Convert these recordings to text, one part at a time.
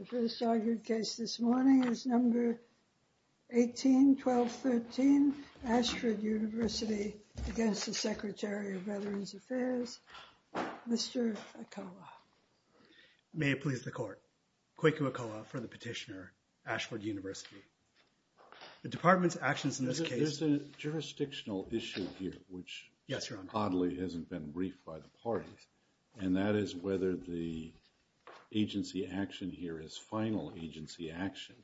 The first argued case this morning is number 18-12-13, Ashford University against the Secretary of Veterans Affairs, Mr. Okowa. May it please the court. Kweku Okowa for the petitioner, Ashford University. The department's actions in this case... There's a jurisdictional issue here, which... Yes, Your Honor. ...oddly hasn't been briefed by the parties, and that is whether the agency action here is final agency action,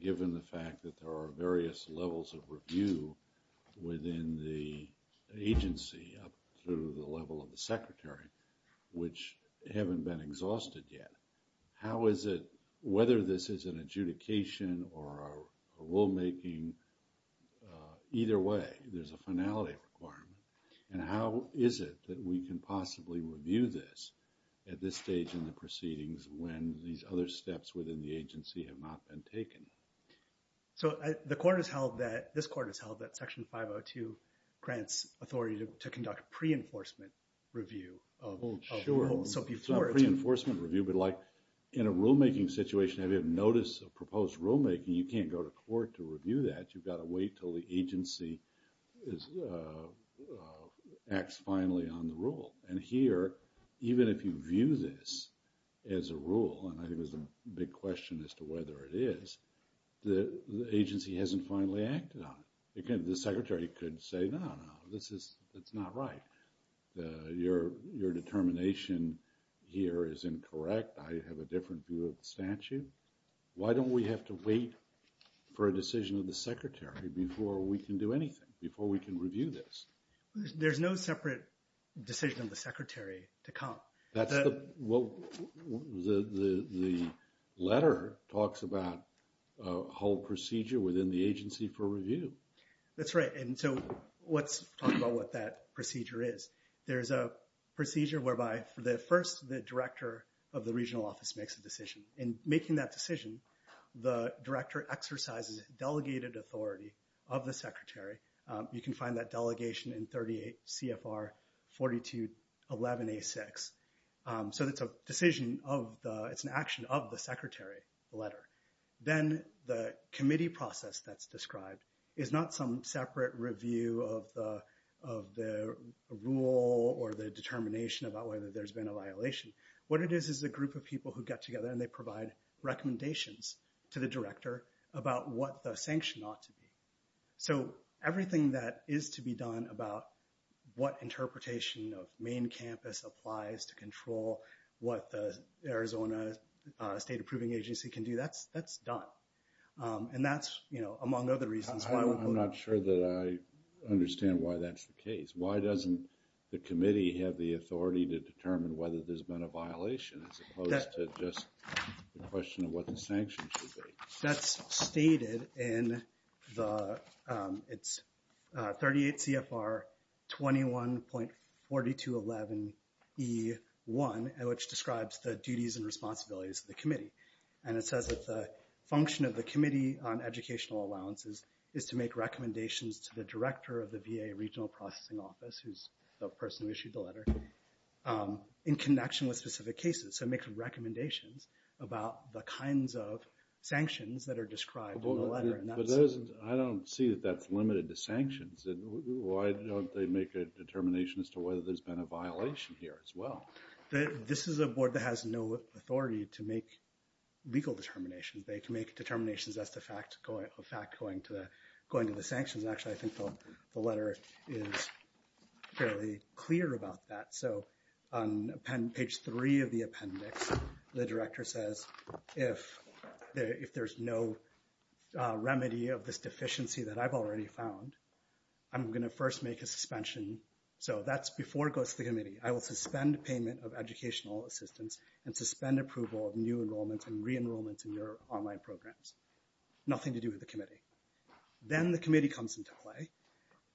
given the fact that there are various levels of review within the agency up through the level of the secretary, which haven't been exhausted yet. How is it, whether this is an adjudication or a rulemaking, either way, there's a finality requirement. And how is it that we can possibly review this at this stage in the proceedings when these other steps within the agency have not been taken? So, the court has held that, this court has held that Section 502 grants authority to conduct a pre-enforcement review of... It's not a pre-enforcement review, but, like, in a rulemaking situation, if you have notice of proposed rulemaking, you can't go to court to review that. You've got to wait until the agency acts finally on the rule. And here, even if you view this as a rule, and I think there's a big question as to whether it is, the agency hasn't finally acted on it. The secretary could say, no, no, this is, it's not right. Your determination here is incorrect. I have a different view of the statute. Why don't we have to wait for a decision of the secretary before we can do anything, before we can review this? There's no separate decision of the secretary to come. The letter talks about a whole procedure within the agency for review. That's right. And so, let's talk about what that procedure is. There's a procedure whereby, first, the director of the regional office makes a decision. In making that decision, the director exercises delegated authority of the secretary. You can find that delegation in 38 CFR 4211A6. So, it's a decision of the, it's an action of the secretary, the letter. Then, the committee process that's described is not some separate review of the rule or the determination about whether there's been a violation. What it is, is a group of people who get together and they provide recommendations to the director about what the sanction ought to be. So, everything that is to be done about what interpretation of main campus applies to control what the Arizona State Approving Agency can do, that's done. And that's, you know, among other reasons. I'm not sure that I understand why that's the case. Why doesn't the committee have the authority to determine whether there's been a violation as opposed to just the question of what the sanction should be? That's stated in the, it's 38 CFR 21.4211E1, which describes the duties and responsibilities of the committee. And it says that the function of the committee on educational allowances is to make recommendations to the director of the VA regional processing office, who's the person who issued the letter, in connection with specific cases. So, it makes recommendations about the kinds of sanctions that are described in the letter. I don't see that that's limited to sanctions. Why don't they make a determination as to whether there's been a violation here as well? This is a board that has no authority to make legal determinations. They can make determinations as to a fact going to the sanctions. Actually, I think the letter is fairly clear about that. So, on page three of the appendix, the director says, if there's no remedy of this deficiency that I've already found, I'm going to first make a suspension. So, that's before it goes to the committee. I will suspend payment of educational assistance and suspend approval of new enrollments and re-enrollments in your online programs. Nothing to do with the committee. Then the committee comes into play,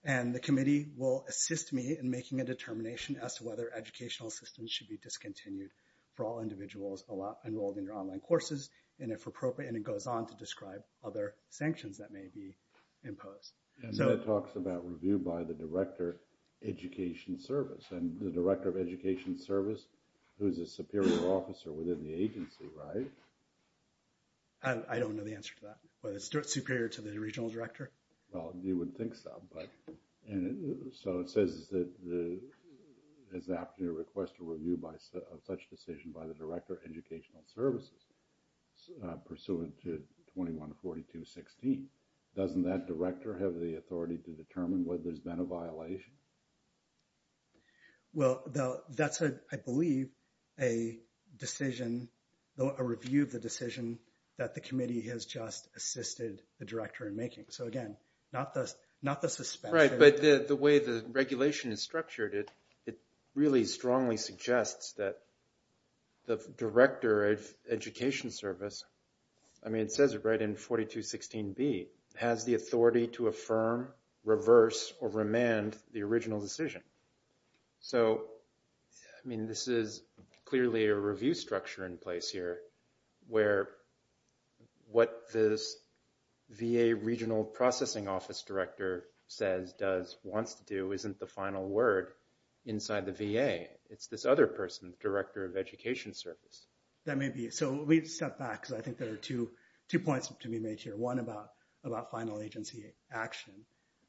and the committee will assist me in making a determination as to whether educational assistance should be discontinued for all individuals enrolled in your online courses, and if appropriate. And it goes on to describe other sanctions that may be imposed. And then it talks about review by the director of education service. And the director of education service, who's a superior officer within the agency, right? I don't know the answer to that. But it's superior to the regional director? Well, you would think so. So, it says that it's apt to request a review of such decision by the director of educational services pursuant to 21-42-16. Doesn't that director have the authority to determine whether there's been a violation? Well, that's, I believe, a decision, a review of the decision that the committee has just assisted the director in making. So, again, not the suspension. Right. But the way the regulation is structured, it really strongly suggests that the director of education service, I mean, it says it right in 42-16B, has the authority to affirm, reverse, or remand the original decision. So, I mean, this is clearly a review structure in place here where what this VA regional processing office director says, does, wants to do, isn't the final word inside the VA. It's this other person, director of education service. That may be. So, we step back because I think there are two points to be made here. One about final agency action,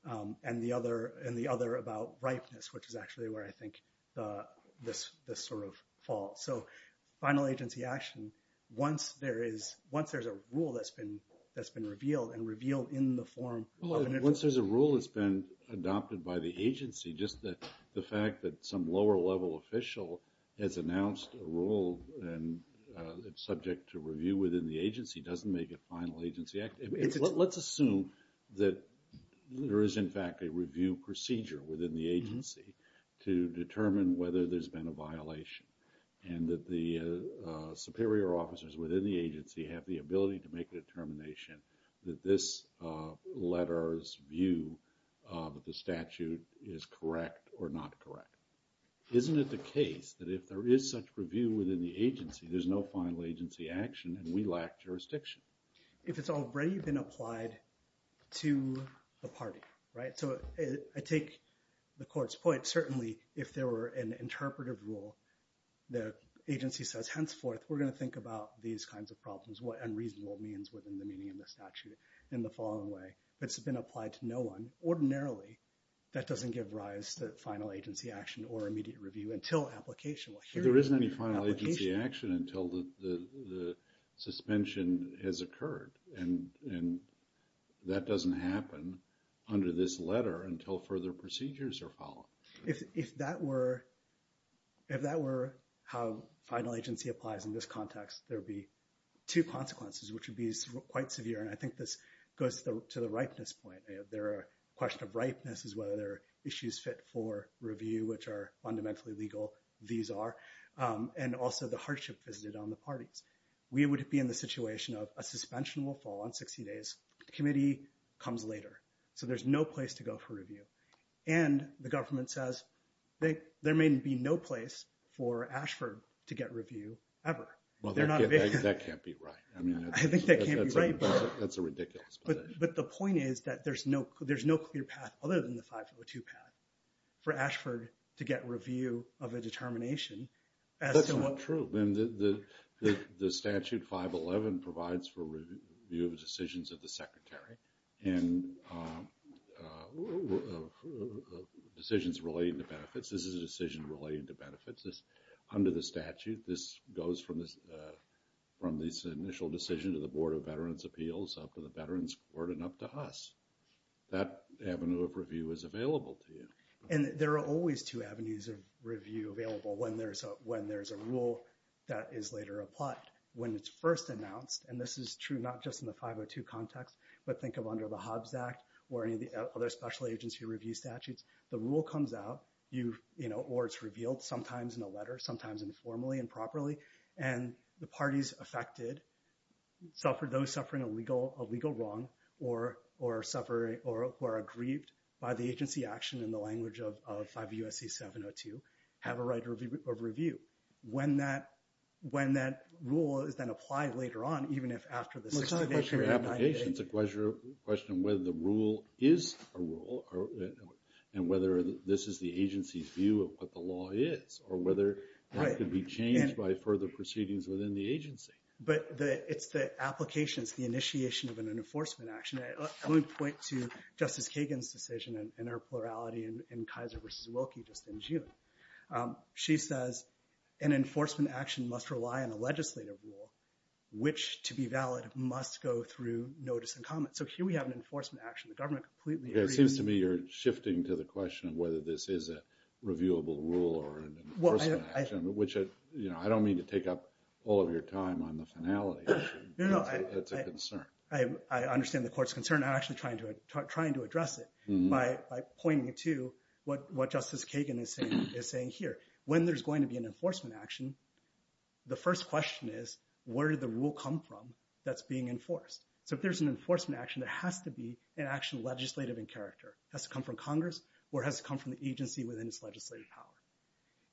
and the other about ripeness, which is actually where I think this sort of falls. So, final agency action, once there's a rule that's been revealed and revealed in the form of an interest. Once there's a rule that's been adopted by the agency, just the fact that some lower level official has announced a rule and it's subject to review within the agency doesn't make it final agency action. Let's assume that there is, in fact, a review procedure within the agency to determine whether there's been a violation and that the superior officers within the agency have the ability to make a determination that this letter's view of the statute is correct or not correct. Isn't it the case that if there is such review within the agency, there's no final agency action and we lack jurisdiction? If it's already been applied to the party, right? So, I take the court's point. Certainly, if there were an interpretive rule, the agency says, henceforth, we're going to think about these kinds of problems, what unreasonable means within the meaning of the statute in the following way. If it's been applied to no one, ordinarily, that doesn't give rise to final agency action or immediate review until application. There isn't any final agency action until the suspension has occurred. And that doesn't happen under this letter until further procedures are followed. If that were how final agency applies in this context, there would be two consequences, which would be quite severe. And I think this goes to the ripeness point. The question of ripeness is whether there are issues fit for review, which are fundamentally legal. These are, and also the hardship visited on the parties. We would be in the situation of a suspension will fall on 60 days. The committee comes later. So, there's no place to go for review. And the government says there may be no place for Ashford to get review ever. Well, that can't be right. I think that can't be right. That's a ridiculous position. But the point is that there's no clear path other than the 502 path for Ashford to get review of a determination. That's not true. The statute 511 provides for review of decisions of the secretary and decisions relating to benefits. Under the statute, this goes from this initial decision to the Board of Veterans Appeals, up to the Veterans Court, and up to us. That avenue of review is available to you. And there are always two avenues of review available when there's a rule that is later applied. When it's first announced, and this is true not just in the 502 context, but think of under the Hobbs Act or any of the other special agency review statutes, the rule comes out, or it's revealed sometimes in a letter, sometimes informally and properly, and the parties affected, those suffering a legal wrong or who are aggrieved by the agency action in the language of 5 U.S.C. 702, have a right of review. When that rule is then applied later on, even if after the 60-day period of 90 days. It's a question of whether the rule is a rule and whether this is the agency's view of what the law is, or whether that could be changed by further proceedings within the agency. But it's the application, it's the initiation of an enforcement action. Let me point to Justice Kagan's decision in her plurality in Kaiser v. Wilkie just in June. She says, an enforcement action must rely on a legislative rule, which, to be valid, must go through notice and comment. So here we have an enforcement action. The government completely agrees. It seems to me you're shifting to the question of whether this is a reviewable rule or an enforcement action, which I don't mean to take up all of your time on the finality. It's a concern. I understand the court's concern. I'm actually trying to address it by pointing to what Justice Kagan is saying here. When there's going to be an enforcement action, the first question is, where did the rule come from that's being enforced? So if there's an enforcement action, there has to be an action legislative in character. It has to come from Congress or it has to come from the agency within its legislative power.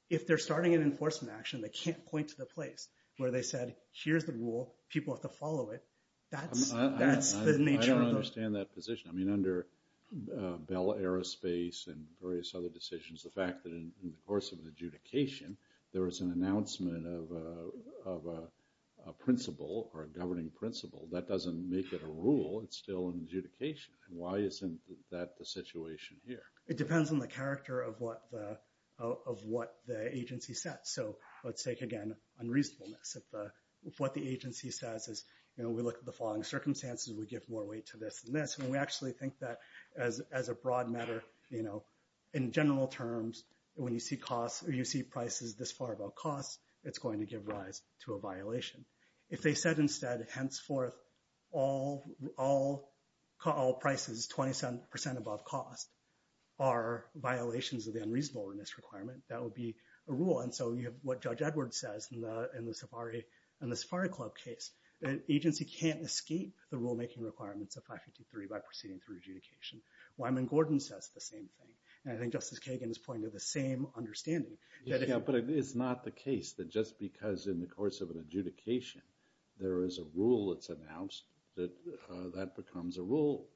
If they're starting an enforcement action, they can't point to the place where they said, here's the rule. People have to follow it. That's the nature of the— I don't understand that position. I mean, under Bell Aerospace and various other decisions, the fact that in the course of an adjudication, there is an announcement of a principle or a governing principle. That doesn't make it a rule. It's still an adjudication. Why isn't that the situation here? It depends on the character of what the agency says. So let's take, again, unreasonableness. If what the agency says is, you know, we look at the following circumstances, we give more weight to this than this. And we actually think that as a broad matter, you know, in general terms, when you see costs or you see prices this far above costs, it's going to give rise to a violation. If they said instead, henceforth, all prices 20% above cost are violations of the unreasonableness requirement, that would be a rule. And so you have what Judge Edwards says in the Safari Club case. The agency can't escape the rulemaking requirements of 553 by proceeding through adjudication. Wyman Gordon says the same thing. And I think Justice Kagan is pointing to the same understanding. But it's not the case that just because in the course of an adjudication there is a rule that's announced, that that becomes a rule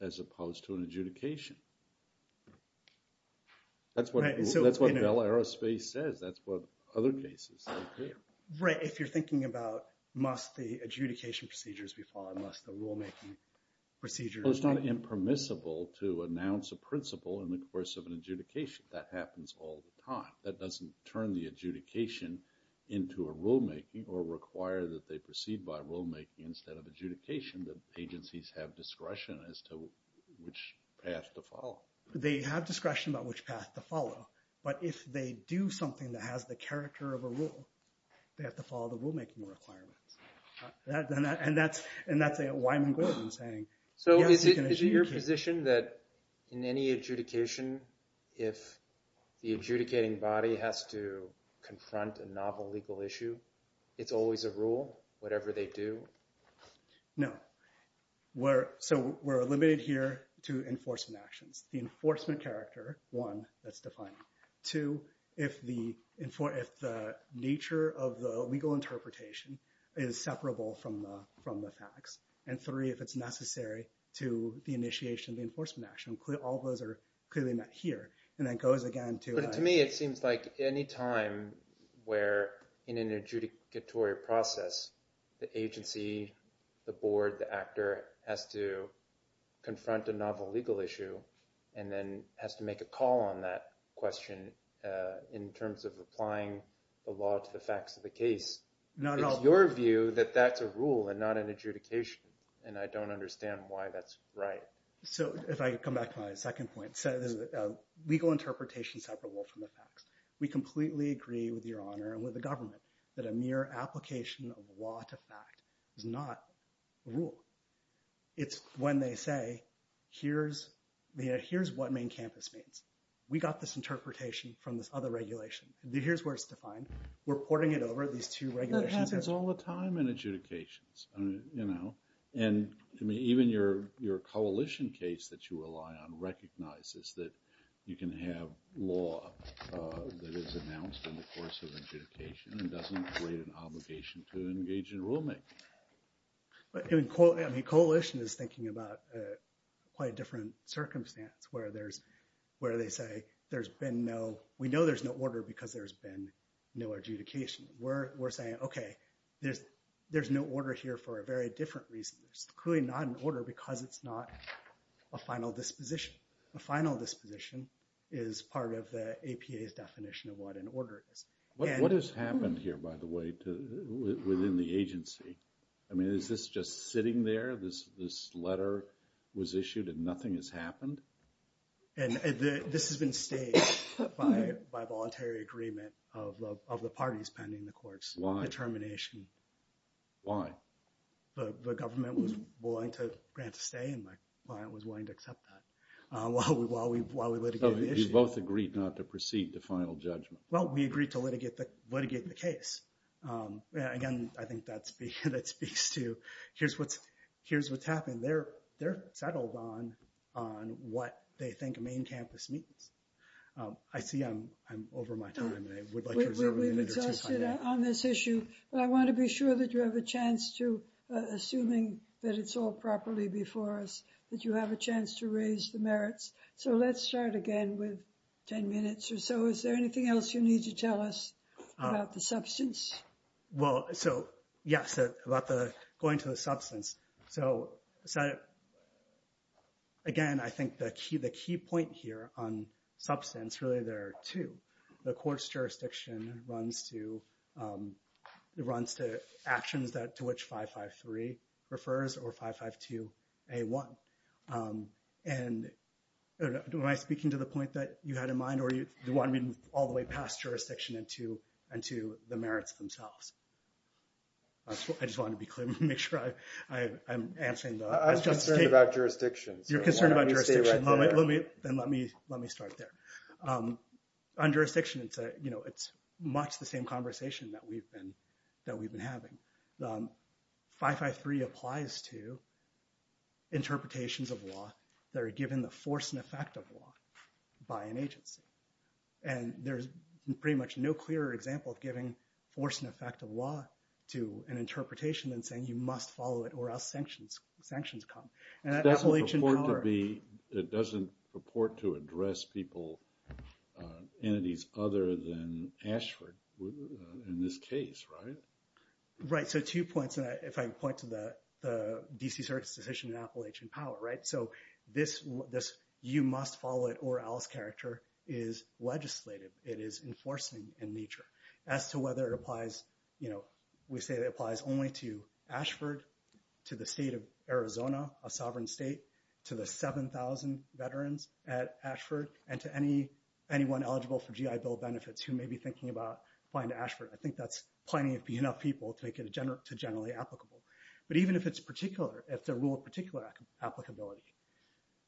as opposed to an adjudication. That's what Bell Aerospace says. That's what other cases say too. Right. If you're thinking about must the adjudication procedures be followed, must the rulemaking procedures be followed. So it's not impermissible to announce a principle in the course of an adjudication. That happens all the time. That doesn't turn the adjudication into a rulemaking or require that they proceed by rulemaking instead of adjudication. The agencies have discretion as to which path to follow. They have discretion about which path to follow. But if they do something that has the character of a rule, they have to follow the rulemaking requirements. And that's Wyman Gordon saying, yes, you can adjudicate. So is it your position that in any adjudication, if the adjudicating body has to confront a novel legal issue, it's always a rule, whatever they do? No. So we're limited here to enforcement actions. The enforcement character, one, that's defined. Two, if the nature of the legal interpretation is separable from the facts. And three, if it's necessary to the initiation of the enforcement action. All those are clearly not here. But to me, it seems like any time where in an adjudicatory process, the agency, the board, the actor has to confront a novel legal issue and then has to make a call on that question in terms of applying the law to the facts of the case. It's your view that that's a rule and not an adjudication. And I don't understand why that's right. So if I come back to my second point, legal interpretation is separable from the facts. We completely agree with Your Honor and with the government that a mere application of law to fact is not a rule. It's when they say, here's what main campus means. We got this interpretation from this other regulation. Here's where it's defined. We're porting it over at these two regulations. That happens all the time in adjudications. And to me, even your coalition case that you rely on recognizes that you can have law that is announced in the course of adjudication and doesn't create an obligation to engage in rulemaking. I mean, coalition is thinking about quite a different circumstance where they say, we know there's no order because there's been no adjudication. We're saying, OK, there's no order here for a very different reason. It's clearly not an order because it's not a final disposition. A final disposition is part of the APA's definition of what an order is. What has happened here, by the way, within the agency? I mean, is this just sitting there? This letter was issued and nothing has happened? And this has been staged by voluntary agreement of the parties pending the court's determination. Why? The government was willing to grant a stay and my client was willing to accept that while we litigated the issue. So you both agreed not to proceed to final judgment? Well, we agreed to litigate the case. Again, I think that speaks to, here's what's happened. They're settled on what they think main campus means. I see I'm over my time and I would like to reserve a minute or two. We've exhausted on this issue, but I want to be sure that you have a chance to, assuming that it's all properly before us, that you have a chance to raise the merits. So let's start again with 10 minutes or so. Is there anything else you need to tell us about the substance? Well, so, yes, about going to the substance. So, again, I think the key point here on substance, really there are two. The court's jurisdiction runs to actions to which 553 refers or 552A1. And am I speaking to the point that you had in mind or do you want me to move all the way past jurisdiction into the merits themselves? I just want to be clear, make sure I'm answering the question. I'm concerned about jurisdiction. You're concerned about jurisdiction? Let me start there. On jurisdiction, it's much the same conversation that we've been having. 553 applies to interpretations of law that are given the force and effect of law by an agency. And there's pretty much no clearer example of giving force and effect of law to an interpretation than saying you must follow it or else sanctions come. It doesn't purport to address people, entities other than Ashford in this case, right? Right. So, two points, and if I can point to the D.C. Circuit's decision in Appalachian Power, right? So, this you must follow it or else character is legislative. It is enforcing in nature. As to whether it applies, you know, we say it applies only to Ashford, to the state of Arizona, a sovereign state, to the 7,000 veterans at Ashford, and to anyone eligible for GI Bill benefits who may be thinking about applying to Ashford. I think that's plenty of enough people to make it generally applicable. But even if it's particular, if the rule of particular applicability,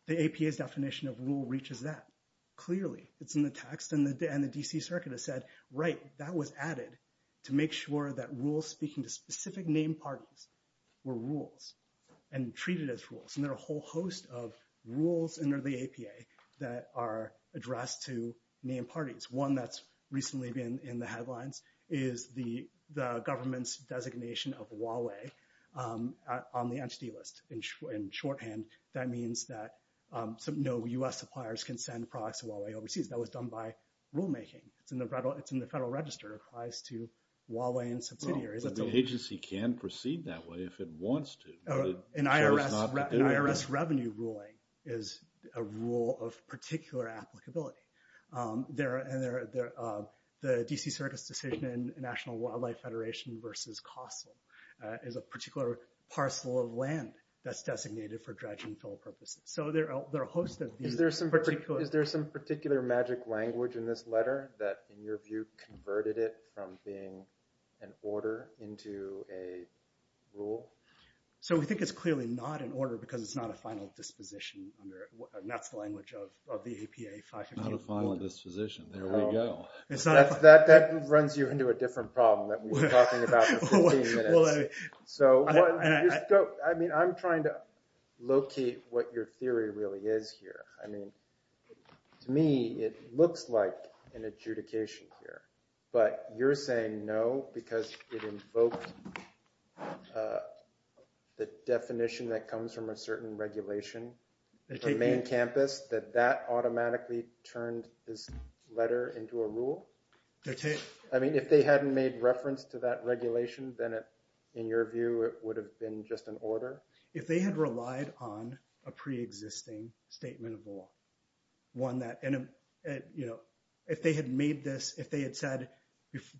the APA's definition of rule reaches that clearly. It's in the text, and the D.C. Circuit has said, right, that was added to make sure that rules speaking to specific named parties were rules and treated as rules. And there are a whole host of rules under the APA that are addressed to named parties. One that's recently been in the headlines is the government's designation of Huawei on the entity list. In shorthand, that means that no U.S. suppliers can send products to Huawei overseas. That was done by rulemaking. It's in the Federal Register. It applies to Huawei and subsidiaries. Well, the agency can proceed that way if it wants to. An IRS revenue ruling is a rule of particular applicability. The D.C. Circuit's decision in National Wildlife Federation versus COSTL is a particular parcel of land that's designated for dredge and fill purposes. So there are a host of these. Is there some particular magic language in this letter that, in your view, converted it from being an order into a rule? So we think it's clearly not an order because it's not a final disposition. And that's the language of the APA 515. Not a final disposition. There we go. That runs you into a different problem that we've been talking about for 15 minutes. I mean, I'm trying to locate what your theory really is here. I mean, to me, it looks like an adjudication here. But you're saying no because it invoked the definition that comes from a certain regulation for main campus, that that automatically turned this letter into a rule? I mean, if they hadn't made reference to that regulation, then, in your view, it would have been just an order? If they had relied on a pre-existing statement of law, one that, you know, if they had made this, if they had said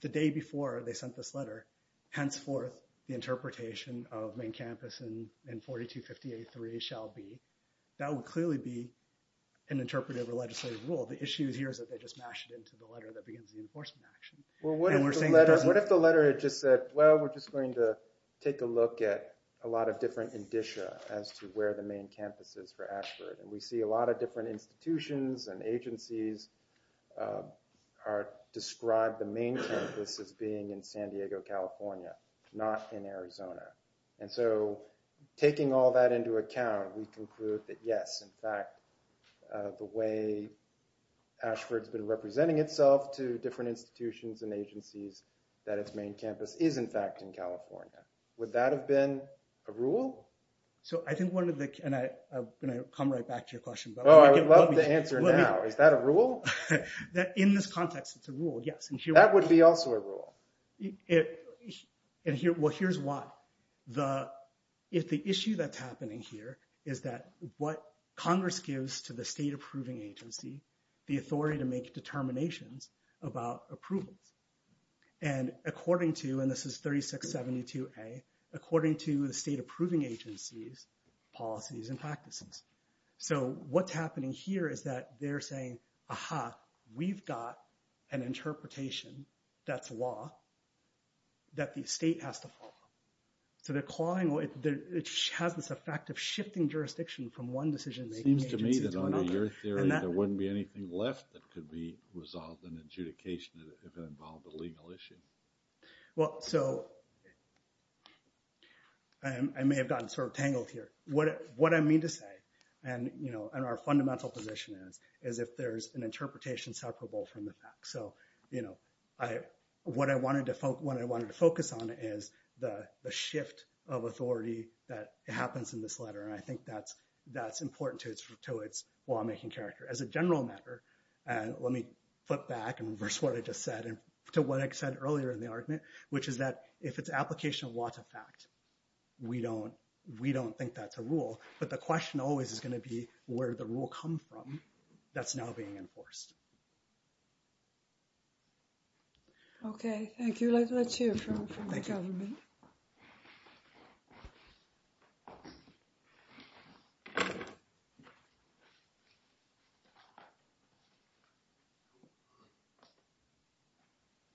the day before they sent this letter, henceforth, the interpretation of main campus in 4258-3 shall be, that would clearly be an interpretive or legislative rule. The issue here is that they just mashed it into the letter that begins the enforcement action. Well, what if the letter had just said, well, we're just going to take a look at a lot of different indicia as to where the main campus is for Ashford. And we see a lot of different institutions and agencies are described the main campus as being in San Diego, California, not in Arizona. And so taking all that into account, we conclude that, yes, in fact, the way Ashford's been representing itself to different institutions and agencies, that its main campus is, in fact, in California. Would that have been a rule? So I think one of the – and I'm going to come right back to your question. Oh, I would love to answer now. Is that a rule? In this context, it's a rule, yes. That would be also a rule. Well, here's why. The issue that's happening here is that what Congress gives to the state approving agency, the authority to make determinations about approvals. And according to – and this is 3672A – according to the state approving agency's policies and practices. So what's happening here is that they're saying, aha, we've got an interpretation that's law that the state has to follow. So they're clawing – it has this effect of shifting jurisdiction from one decision-making agency to another. It seems to me that under your theory there wouldn't be anything left that could be resolved in adjudication if it involved a legal issue. Well, so I may have gotten sort of tangled here. What I mean to say and our fundamental position is, is if there's an interpretation separable from the fact. So what I wanted to focus on is the shift of authority that happens in this letter. And I think that's important to its lawmaking character. And let me flip back and reverse what I just said to what I said earlier in the argument, which is that if it's application of water fact, we don't think that's a rule. But the question always is going to be where the rule come from that's now being enforced. Okay. Thank you. Let's hear from the government.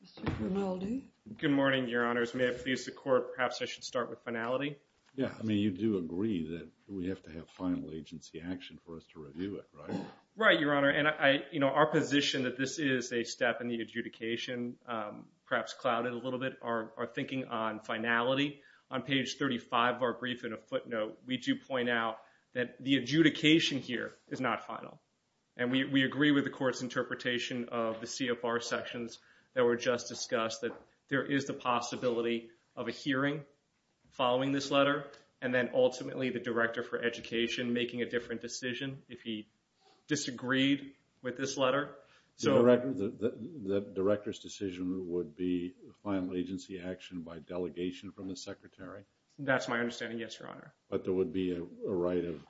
Mr. Grinaldi. Good morning, Your Honors. May I please the Court? Perhaps I should start with finality. Yeah. I mean, you do agree that we have to have final agency action for us to review it, right? Right, Your Honor. And our position that this is a step in the adjudication, perhaps clouded a little bit, are thinking on finality. On page 35 of our brief in a footnote, we do point out that the adjudication here is not final. And we agree with the Court's interpretation of the CFR sections that were just discussed that there is the possibility of a hearing following this letter. And then ultimately, the Director for Education making a different decision if he disagreed with this letter. The Director's decision would be final agency action by delegation from the Secretary? That's my understanding, yes, Your Honor. But there would be a right of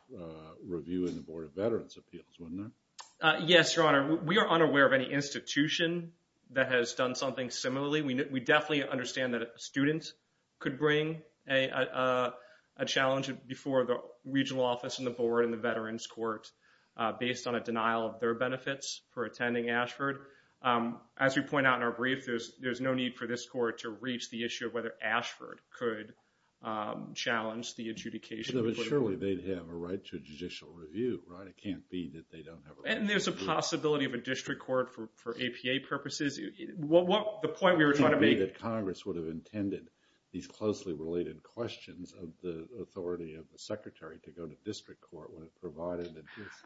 review in the Board of Veterans' Appeals, wouldn't there? Yes, Your Honor. We are unaware of any institution that has done something similarly. We definitely understand that a student could bring a challenge before the regional office and the Board and the Veterans' Court based on a denial of their benefits for attending Ashford. As we point out in our brief, there's no need for this Court to reach the issue of whether Ashford could challenge the adjudication. But surely they'd have a right to judicial review, right? It can't be that they don't have a right to review. And there's a possibility of a district court for APA purposes. The point we were trying to make... Congress would have intended these closely related questions of the authority of the Secretary to go to district court when it provided...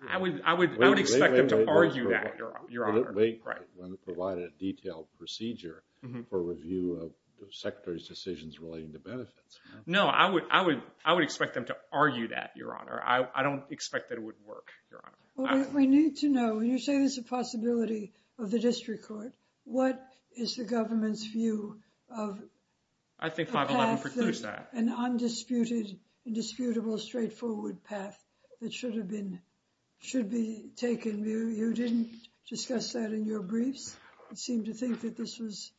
I would expect them to argue that, Your Honor. When it provided a detailed procedure for review of the Secretary's decisions relating to benefits. No, I would expect them to argue that, Your Honor. I don't expect that it would work, Your Honor. We need to know, when you say there's a possibility of the district court, what is the government's view of... I think 511 precludes that. ...an undisputed, indisputable, straightforward path that should be taken. You didn't discuss that in your briefs. You seemed to think that this was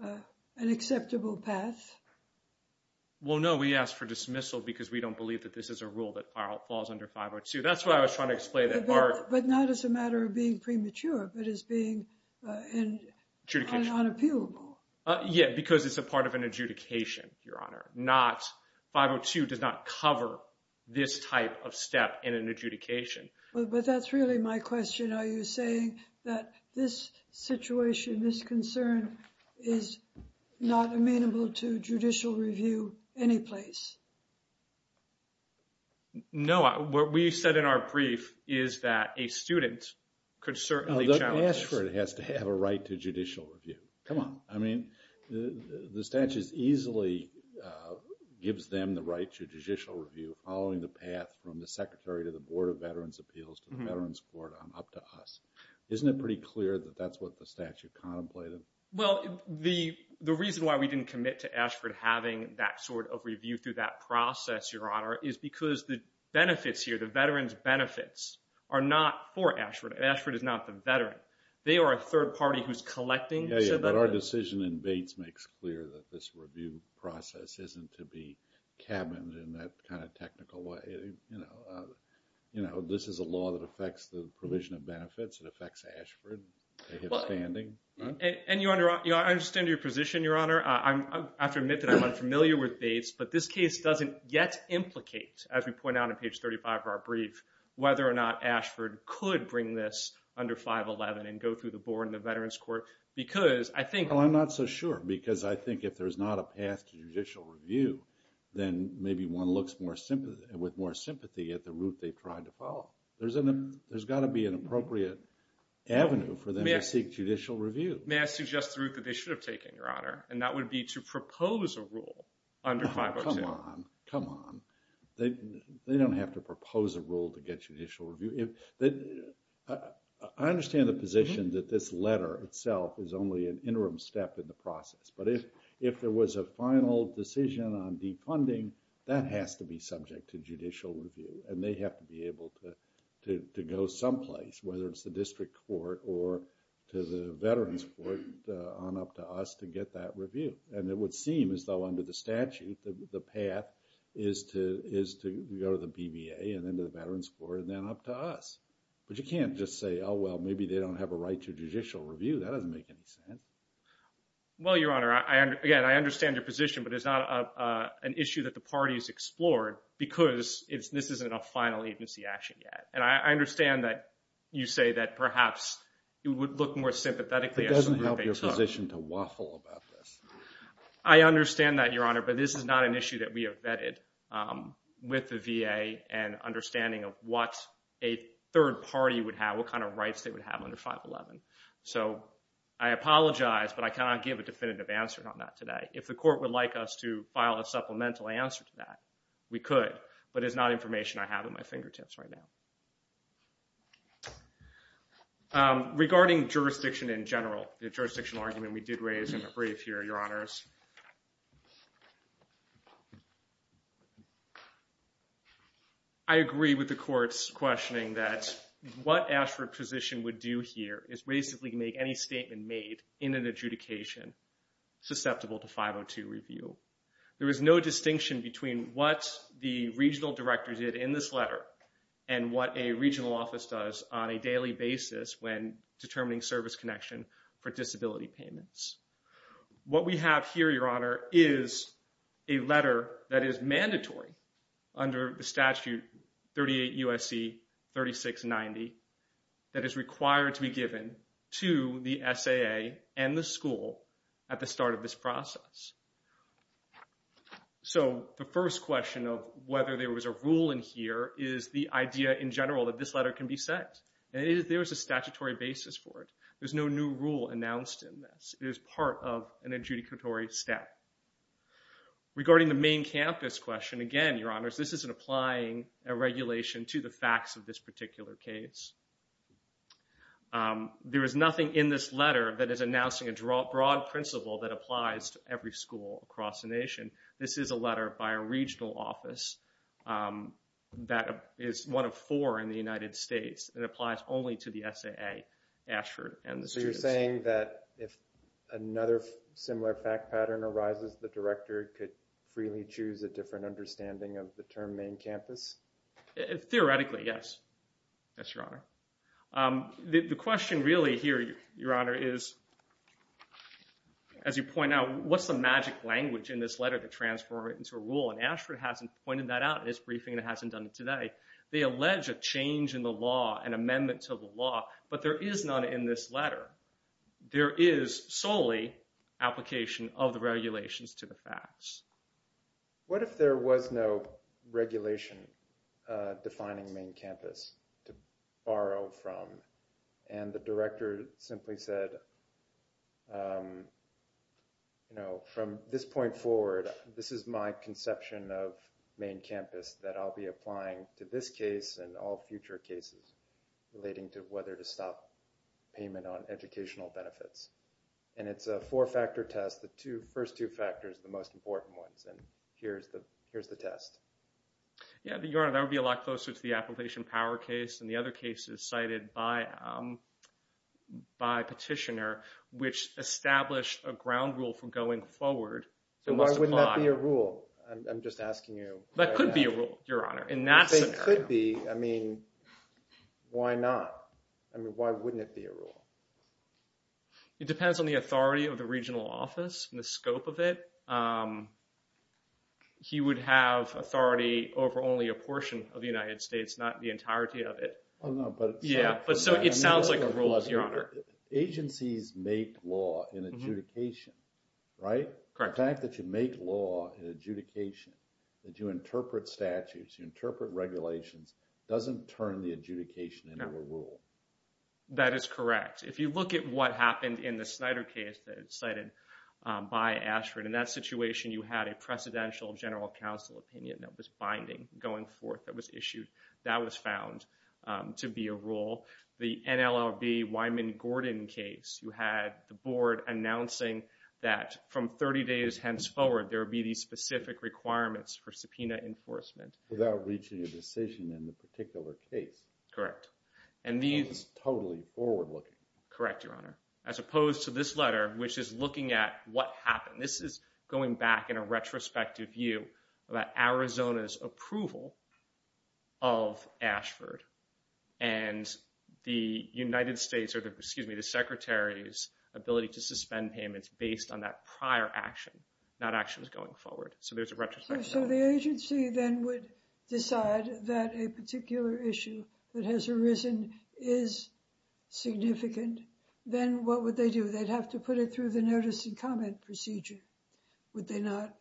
an acceptable path. Well, no, we asked for dismissal because we don't believe that this is a rule that falls under 502. That's why I was trying to explain that part. But not as a matter of being premature, but as being unappealable. Yeah, because it's a part of an adjudication, Your Honor. 502 does not cover this type of step in an adjudication. But that's really my question. Are you saying that this situation, this concern, is not amenable to judicial review anyplace? No. What we said in our brief is that a student could certainly challenge this. The Ashford has to have a right to judicial review. Come on. I mean, the statute easily gives them the right to judicial review following the path from the Secretary to the Board of Veterans' Appeals to the Veterans' Court up to us. Isn't it pretty clear that that's what the statute contemplated? Well, the reason why we didn't commit to Ashford having that sort of review through that process, Your Honor, is because the benefits here, the veterans' benefits, are not for Ashford. Ashford is not the veteran. They are a third party who's collecting. Yeah, but our decision in Bates makes clear that this review process isn't to be cabined in that kind of technical way. You know, this is a law that affects the provision of benefits. It affects Ashford. And I understand your position, Your Honor. I have to admit that I'm unfamiliar with Bates, but this case doesn't yet implicate, as we point out in page 35 of our brief, whether or not Ashford could bring this under 511 and go through the Board and the Veterans' Court because I think— Well, I'm not so sure because I think if there's not a path to judicial review, then maybe one looks with more sympathy at the route they tried to follow. There's got to be an appropriate avenue for them to seek judicial review. May I suggest the route that they should have taken, Your Honor, and that would be to propose a rule under 502. Oh, come on. Come on. They don't have to propose a rule to get judicial review. I understand the position that this letter itself is only an interim step in the process, but if there was a final decision on defunding, that has to be subject to judicial review, and they have to be able to go someplace, whether it's the District Court or to the Veterans' Court, on up to us to get that review. And it would seem as though under the statute, the path is to go to the BVA and then to the Veterans' Court and then up to us. But you can't just say, oh, well, maybe they don't have a right to judicial review. That doesn't make any sense. Well, Your Honor, again, I understand your position, but it's not an issue that the parties explored because this isn't a final agency action yet. And I understand that you say that perhaps it would look more sympathetically. It doesn't help your position to waffle about this. I understand that, Your Honor, but this is not an issue that we have vetted with the VA and understanding of what a third party would have, what kind of rights they would have under 511. So I apologize, but I cannot give a definitive answer on that today. If the Court would like us to file a supplemental answer to that, we could, but it's not information I have at my fingertips right now. Regarding jurisdiction in general, the jurisdictional argument we did raise in the brief here, Your Honors, I agree with the Court's questioning that what Ashford's position would do here is basically make any statement made in an adjudication susceptible to 502 review. There is no distinction between what the regional director did in this letter and what a regional office does on a daily basis when determining service connection for disability payments. What we have here, Your Honor, is a letter that is mandatory under the statute 38 U.S.C. 3690 that is required to be given to the SAA and the school at the start of this process. So the first question of whether there was a rule in here is the idea in general that this letter can be set. There is a statutory basis for it. There's no new rule announced in this. It is part of an adjudicatory step. Regarding the main campus question, again, Your Honors, this isn't applying a regulation to the facts of this particular case. There is nothing in this letter that is announcing a broad principle that applies to every school across the nation. This is a letter by a regional office that is one of four in the United States. It applies only to the SAA, Ashford, and the students. So you're saying that if another similar fact pattern arises, the director could freely choose a different understanding of the term main campus? Theoretically, yes. Yes, Your Honor. The question really here, Your Honor, is, as you point out, what's the magic language in this letter to transform it into a rule? And Ashford hasn't pointed that out in his briefing and hasn't done it today. They allege a change in the law, an amendment to the law, but there is none in this letter. There is solely application of the regulations to the facts. What if there was no regulation defining main campus to borrow from? And the director simply said, you know, from this point forward, this is my conception of main campus that I'll be applying to this case and all future cases relating to whether to stop payment on educational benefits. And it's a four-factor test. The first two factors are the most important ones. And here's the test. Your Honor, that would be a lot closer to the application power case than the other cases cited by Petitioner, which established a ground rule for going forward. Why wouldn't that be a rule? I'm just asking you. That could be a rule, Your Honor, in that scenario. It could be. I mean, why not? I mean, why wouldn't it be a rule? It depends on the authority of the regional office and the scope of it. He would have authority over only a portion of the United States, not the entirety of it. Oh, no, but it sounds like a rule. It sounds like a rule, Your Honor. Agencies make law in adjudication, right? Correct. The fact that you make law in adjudication, that you interpret statutes, you interpret regulations, doesn't turn the adjudication into a rule. That is correct. If you look at what happened in the Snyder case that was cited by Ashford, in that situation you had a Presidential General Counsel opinion that was binding, going forth, that was issued. That was found to be a rule. For example, the NLRB Wyman Gordon case, you had the board announcing that from 30 days hence forward there would be these specific requirements for subpoena enforcement. Without reaching a decision in the particular case. Correct. Which is totally forward-looking. Correct, Your Honor. As opposed to this letter, which is looking at what happened. This is going back in a retrospective view about Arizona's approval of Ashford. And the Secretary's ability to suspend payments based on that prior action, not actions going forward. So there's a retrospective view. So the agency then would decide that a particular issue that has arisen is significant. Then what would they do? They'd have to put it through the notice and comment procedure, would they not?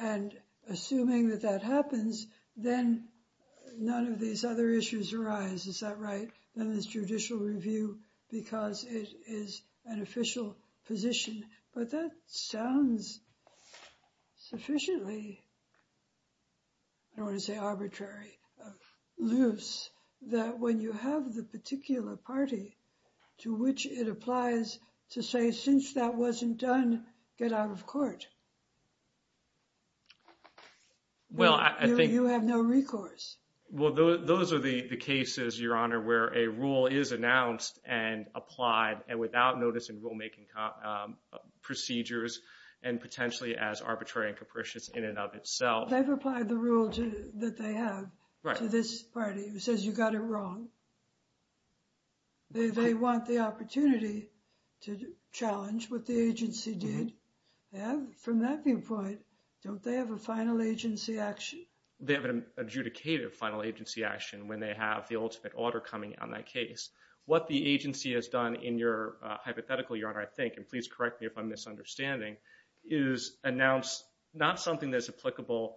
And assuming that that happens, then none of these other issues arise. Is that right? Then there's judicial review because it is an official position. But that sounds sufficiently, I don't want to say arbitrary, loose. That when you have the particular party to which it applies to say, since that wasn't done, get out of court. You have no recourse. Well, those are the cases, Your Honor, where a rule is announced and applied and without notice and rulemaking procedures and potentially as arbitrary and capricious in and of itself. They've applied the rule that they have to this party who says you got it wrong. They want the opportunity to challenge what the agency did. And from that viewpoint, don't they have a final agency action? They have an adjudicated final agency action when they have the ultimate order coming on that case. What the agency has done in your hypothetical, Your Honor, I think, and please correct me if I'm misunderstanding, is announce not something that's applicable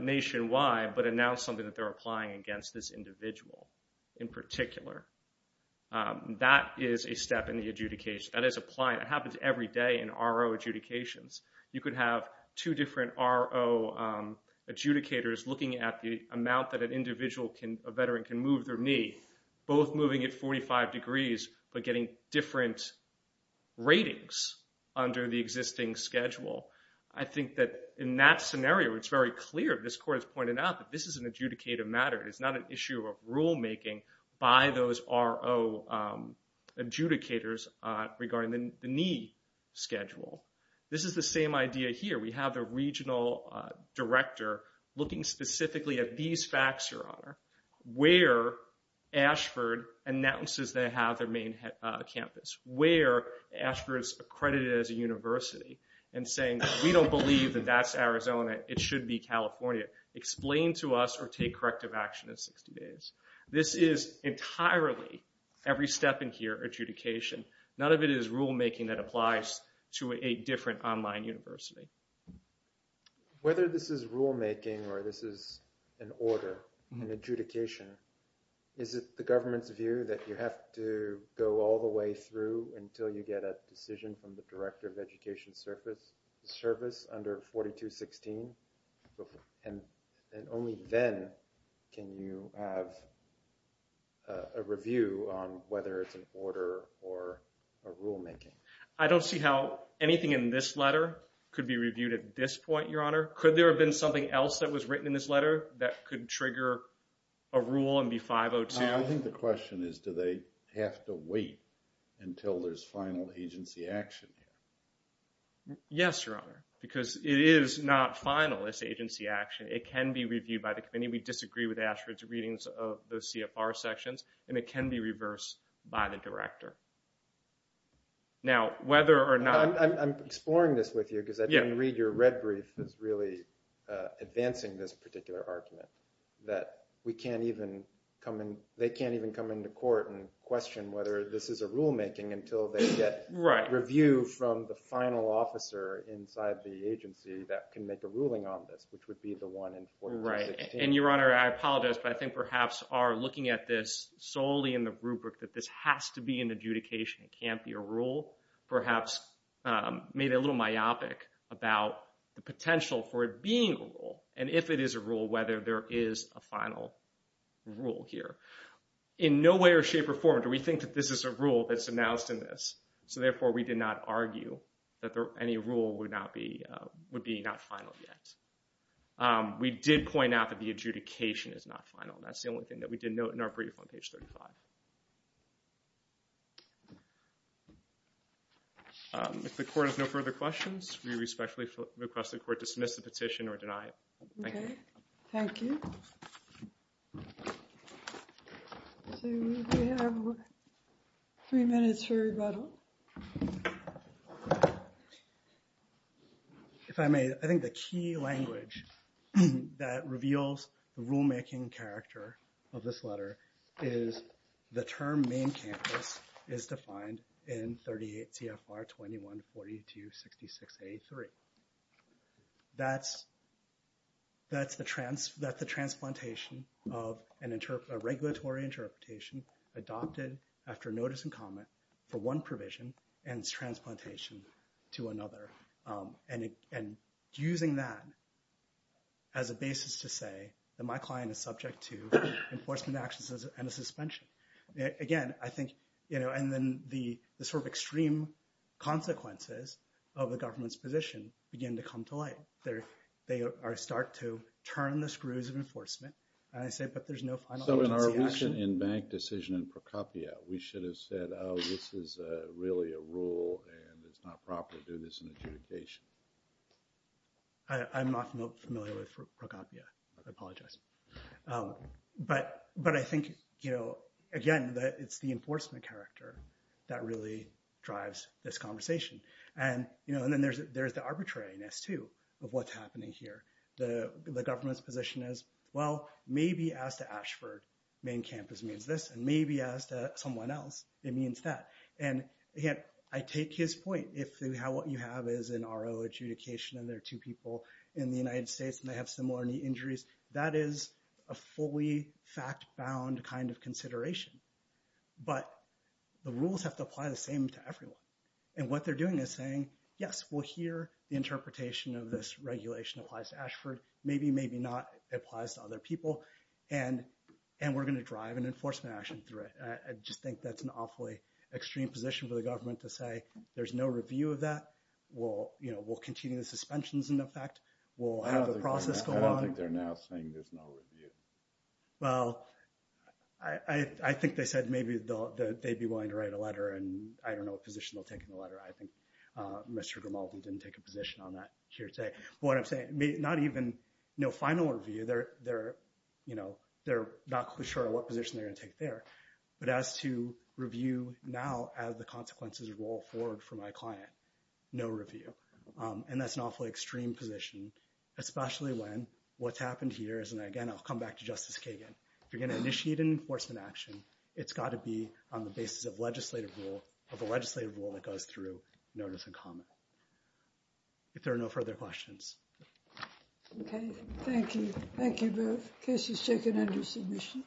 nationwide, but announce something that they're applying against this individual in particular. That is a step in the adjudication. That is applied. It happens every day in RO adjudications. You could have two different RO adjudicators looking at the amount that an individual, a veteran, can move their knee, both moving it 45 degrees but getting different ratings under the existing schedule. I think that in that scenario, it's very clear. This court has pointed out that this is an adjudicated matter. It's not an issue of rulemaking by those RO adjudicators regarding the knee schedule. This is the same idea here. We have the regional director looking specifically at these facts, Your Honor, where Ashford announces they have their main campus, where Ashford is accredited as a university and saying, we don't believe that that's Arizona. It should be California. Explain to us or take corrective action in 60 days. This is entirely, every step in here, adjudication. None of it is rulemaking that applies to a different online university. Whether this is rulemaking or this is an order, an adjudication, is it the government's view that you have to go all the way through until you get a decision from the Director of Education Service under 4216? And only then can you have a review on whether it's an order or a rulemaking. I don't see how anything in this letter could be reviewed at this point, Your Honor. Could there have been something else that was written in this letter that could trigger a rule and be 502? I think the question is do they have to wait until there's final agency action? Yes, Your Honor, because it is not final, this agency action. It can be reviewed by the committee. We disagree with Ashford's readings of the CFR sections, and it can be reversed by the director. Now, whether or not – I'm exploring this with you because I didn't read your red brief that's really advancing this particular argument that we can't even come in – they can't even come into court and question whether this is a rulemaking until they get review from the final officer inside the agency that can make a ruling on this, which would be the one in 4216. And, Your Honor, I apologize, but I think perhaps are looking at this solely in the rubric that this has to be an adjudication. It can't be a rule. Perhaps made it a little myopic about the potential for it being a rule, and if it is a rule, whether there is a final rule here. In no way or shape or form do we think that this is a rule that's announced in this, so therefore we did not argue that any rule would be not final yet. We did point out that the adjudication is not final. That's the only thing that we did note in our brief on page 35. If the court has no further questions, we respectfully request the court dismiss the petition or deny it. Thank you. Thank you. So we have three minutes for rebuttal. If I may, I think the key language that reveals the rulemaking character of this letter is the term main campus is defined in 38 CFR 21-4266-83. That's the transplantation of a regulatory interpretation adopted after notice and comment for one provision and its transplantation to another. And using that as a basis to say that my client is subject to enforcement actions and a suspension. Again, I think, you know, and then the sort of extreme consequences of the government's position begin to come to light. They start to turn the screws of enforcement, and I say, but there's no final agency action. In bank decision in Procopio, we should have said, oh, this is really a rule and it's not proper to do this in adjudication. I'm not familiar with Procopio. I apologize. But I think, you know, again, that it's the enforcement character that really drives this conversation. And, you know, and then there's the arbitrariness, too, of what's happening here. The government's position is, well, maybe as to Ashford, main campus means this, and maybe as to someone else, it means that. And, again, I take his point. If what you have is an RO adjudication and there are two people in the United States and they have similar knee injuries, that is a fully fact-bound kind of consideration. But the rules have to apply the same to everyone. And what they're doing is saying, yes, well, here, the interpretation of this regulation applies to Ashford. Maybe, maybe not. It applies to other people. And we're going to drive an enforcement action through it. I just think that's an awfully extreme position for the government to say, there's no review of that. We'll continue the suspensions in effect. We'll have the process go on. I don't think they're now saying there's no review. Well, I think they said maybe they'd be willing to write a letter, and I don't know what position they'll take in the letter. I think Mr. Grimaldi didn't take a position on that here today. But what I'm saying, not even no final review. They're not quite sure what position they're going to take there. But as to review now as the consequences roll forward for my client, no review. And that's an awfully extreme position, especially when what's happened here is, and, again, I'll come back to Justice Kagan. If you're going to initiate an enforcement action, it's got to be on the basis of legislative rule, of a legislative rule that goes through notice and comment. If there are no further questions. Okay. Thank you. Thank you both. Case is taken under submission.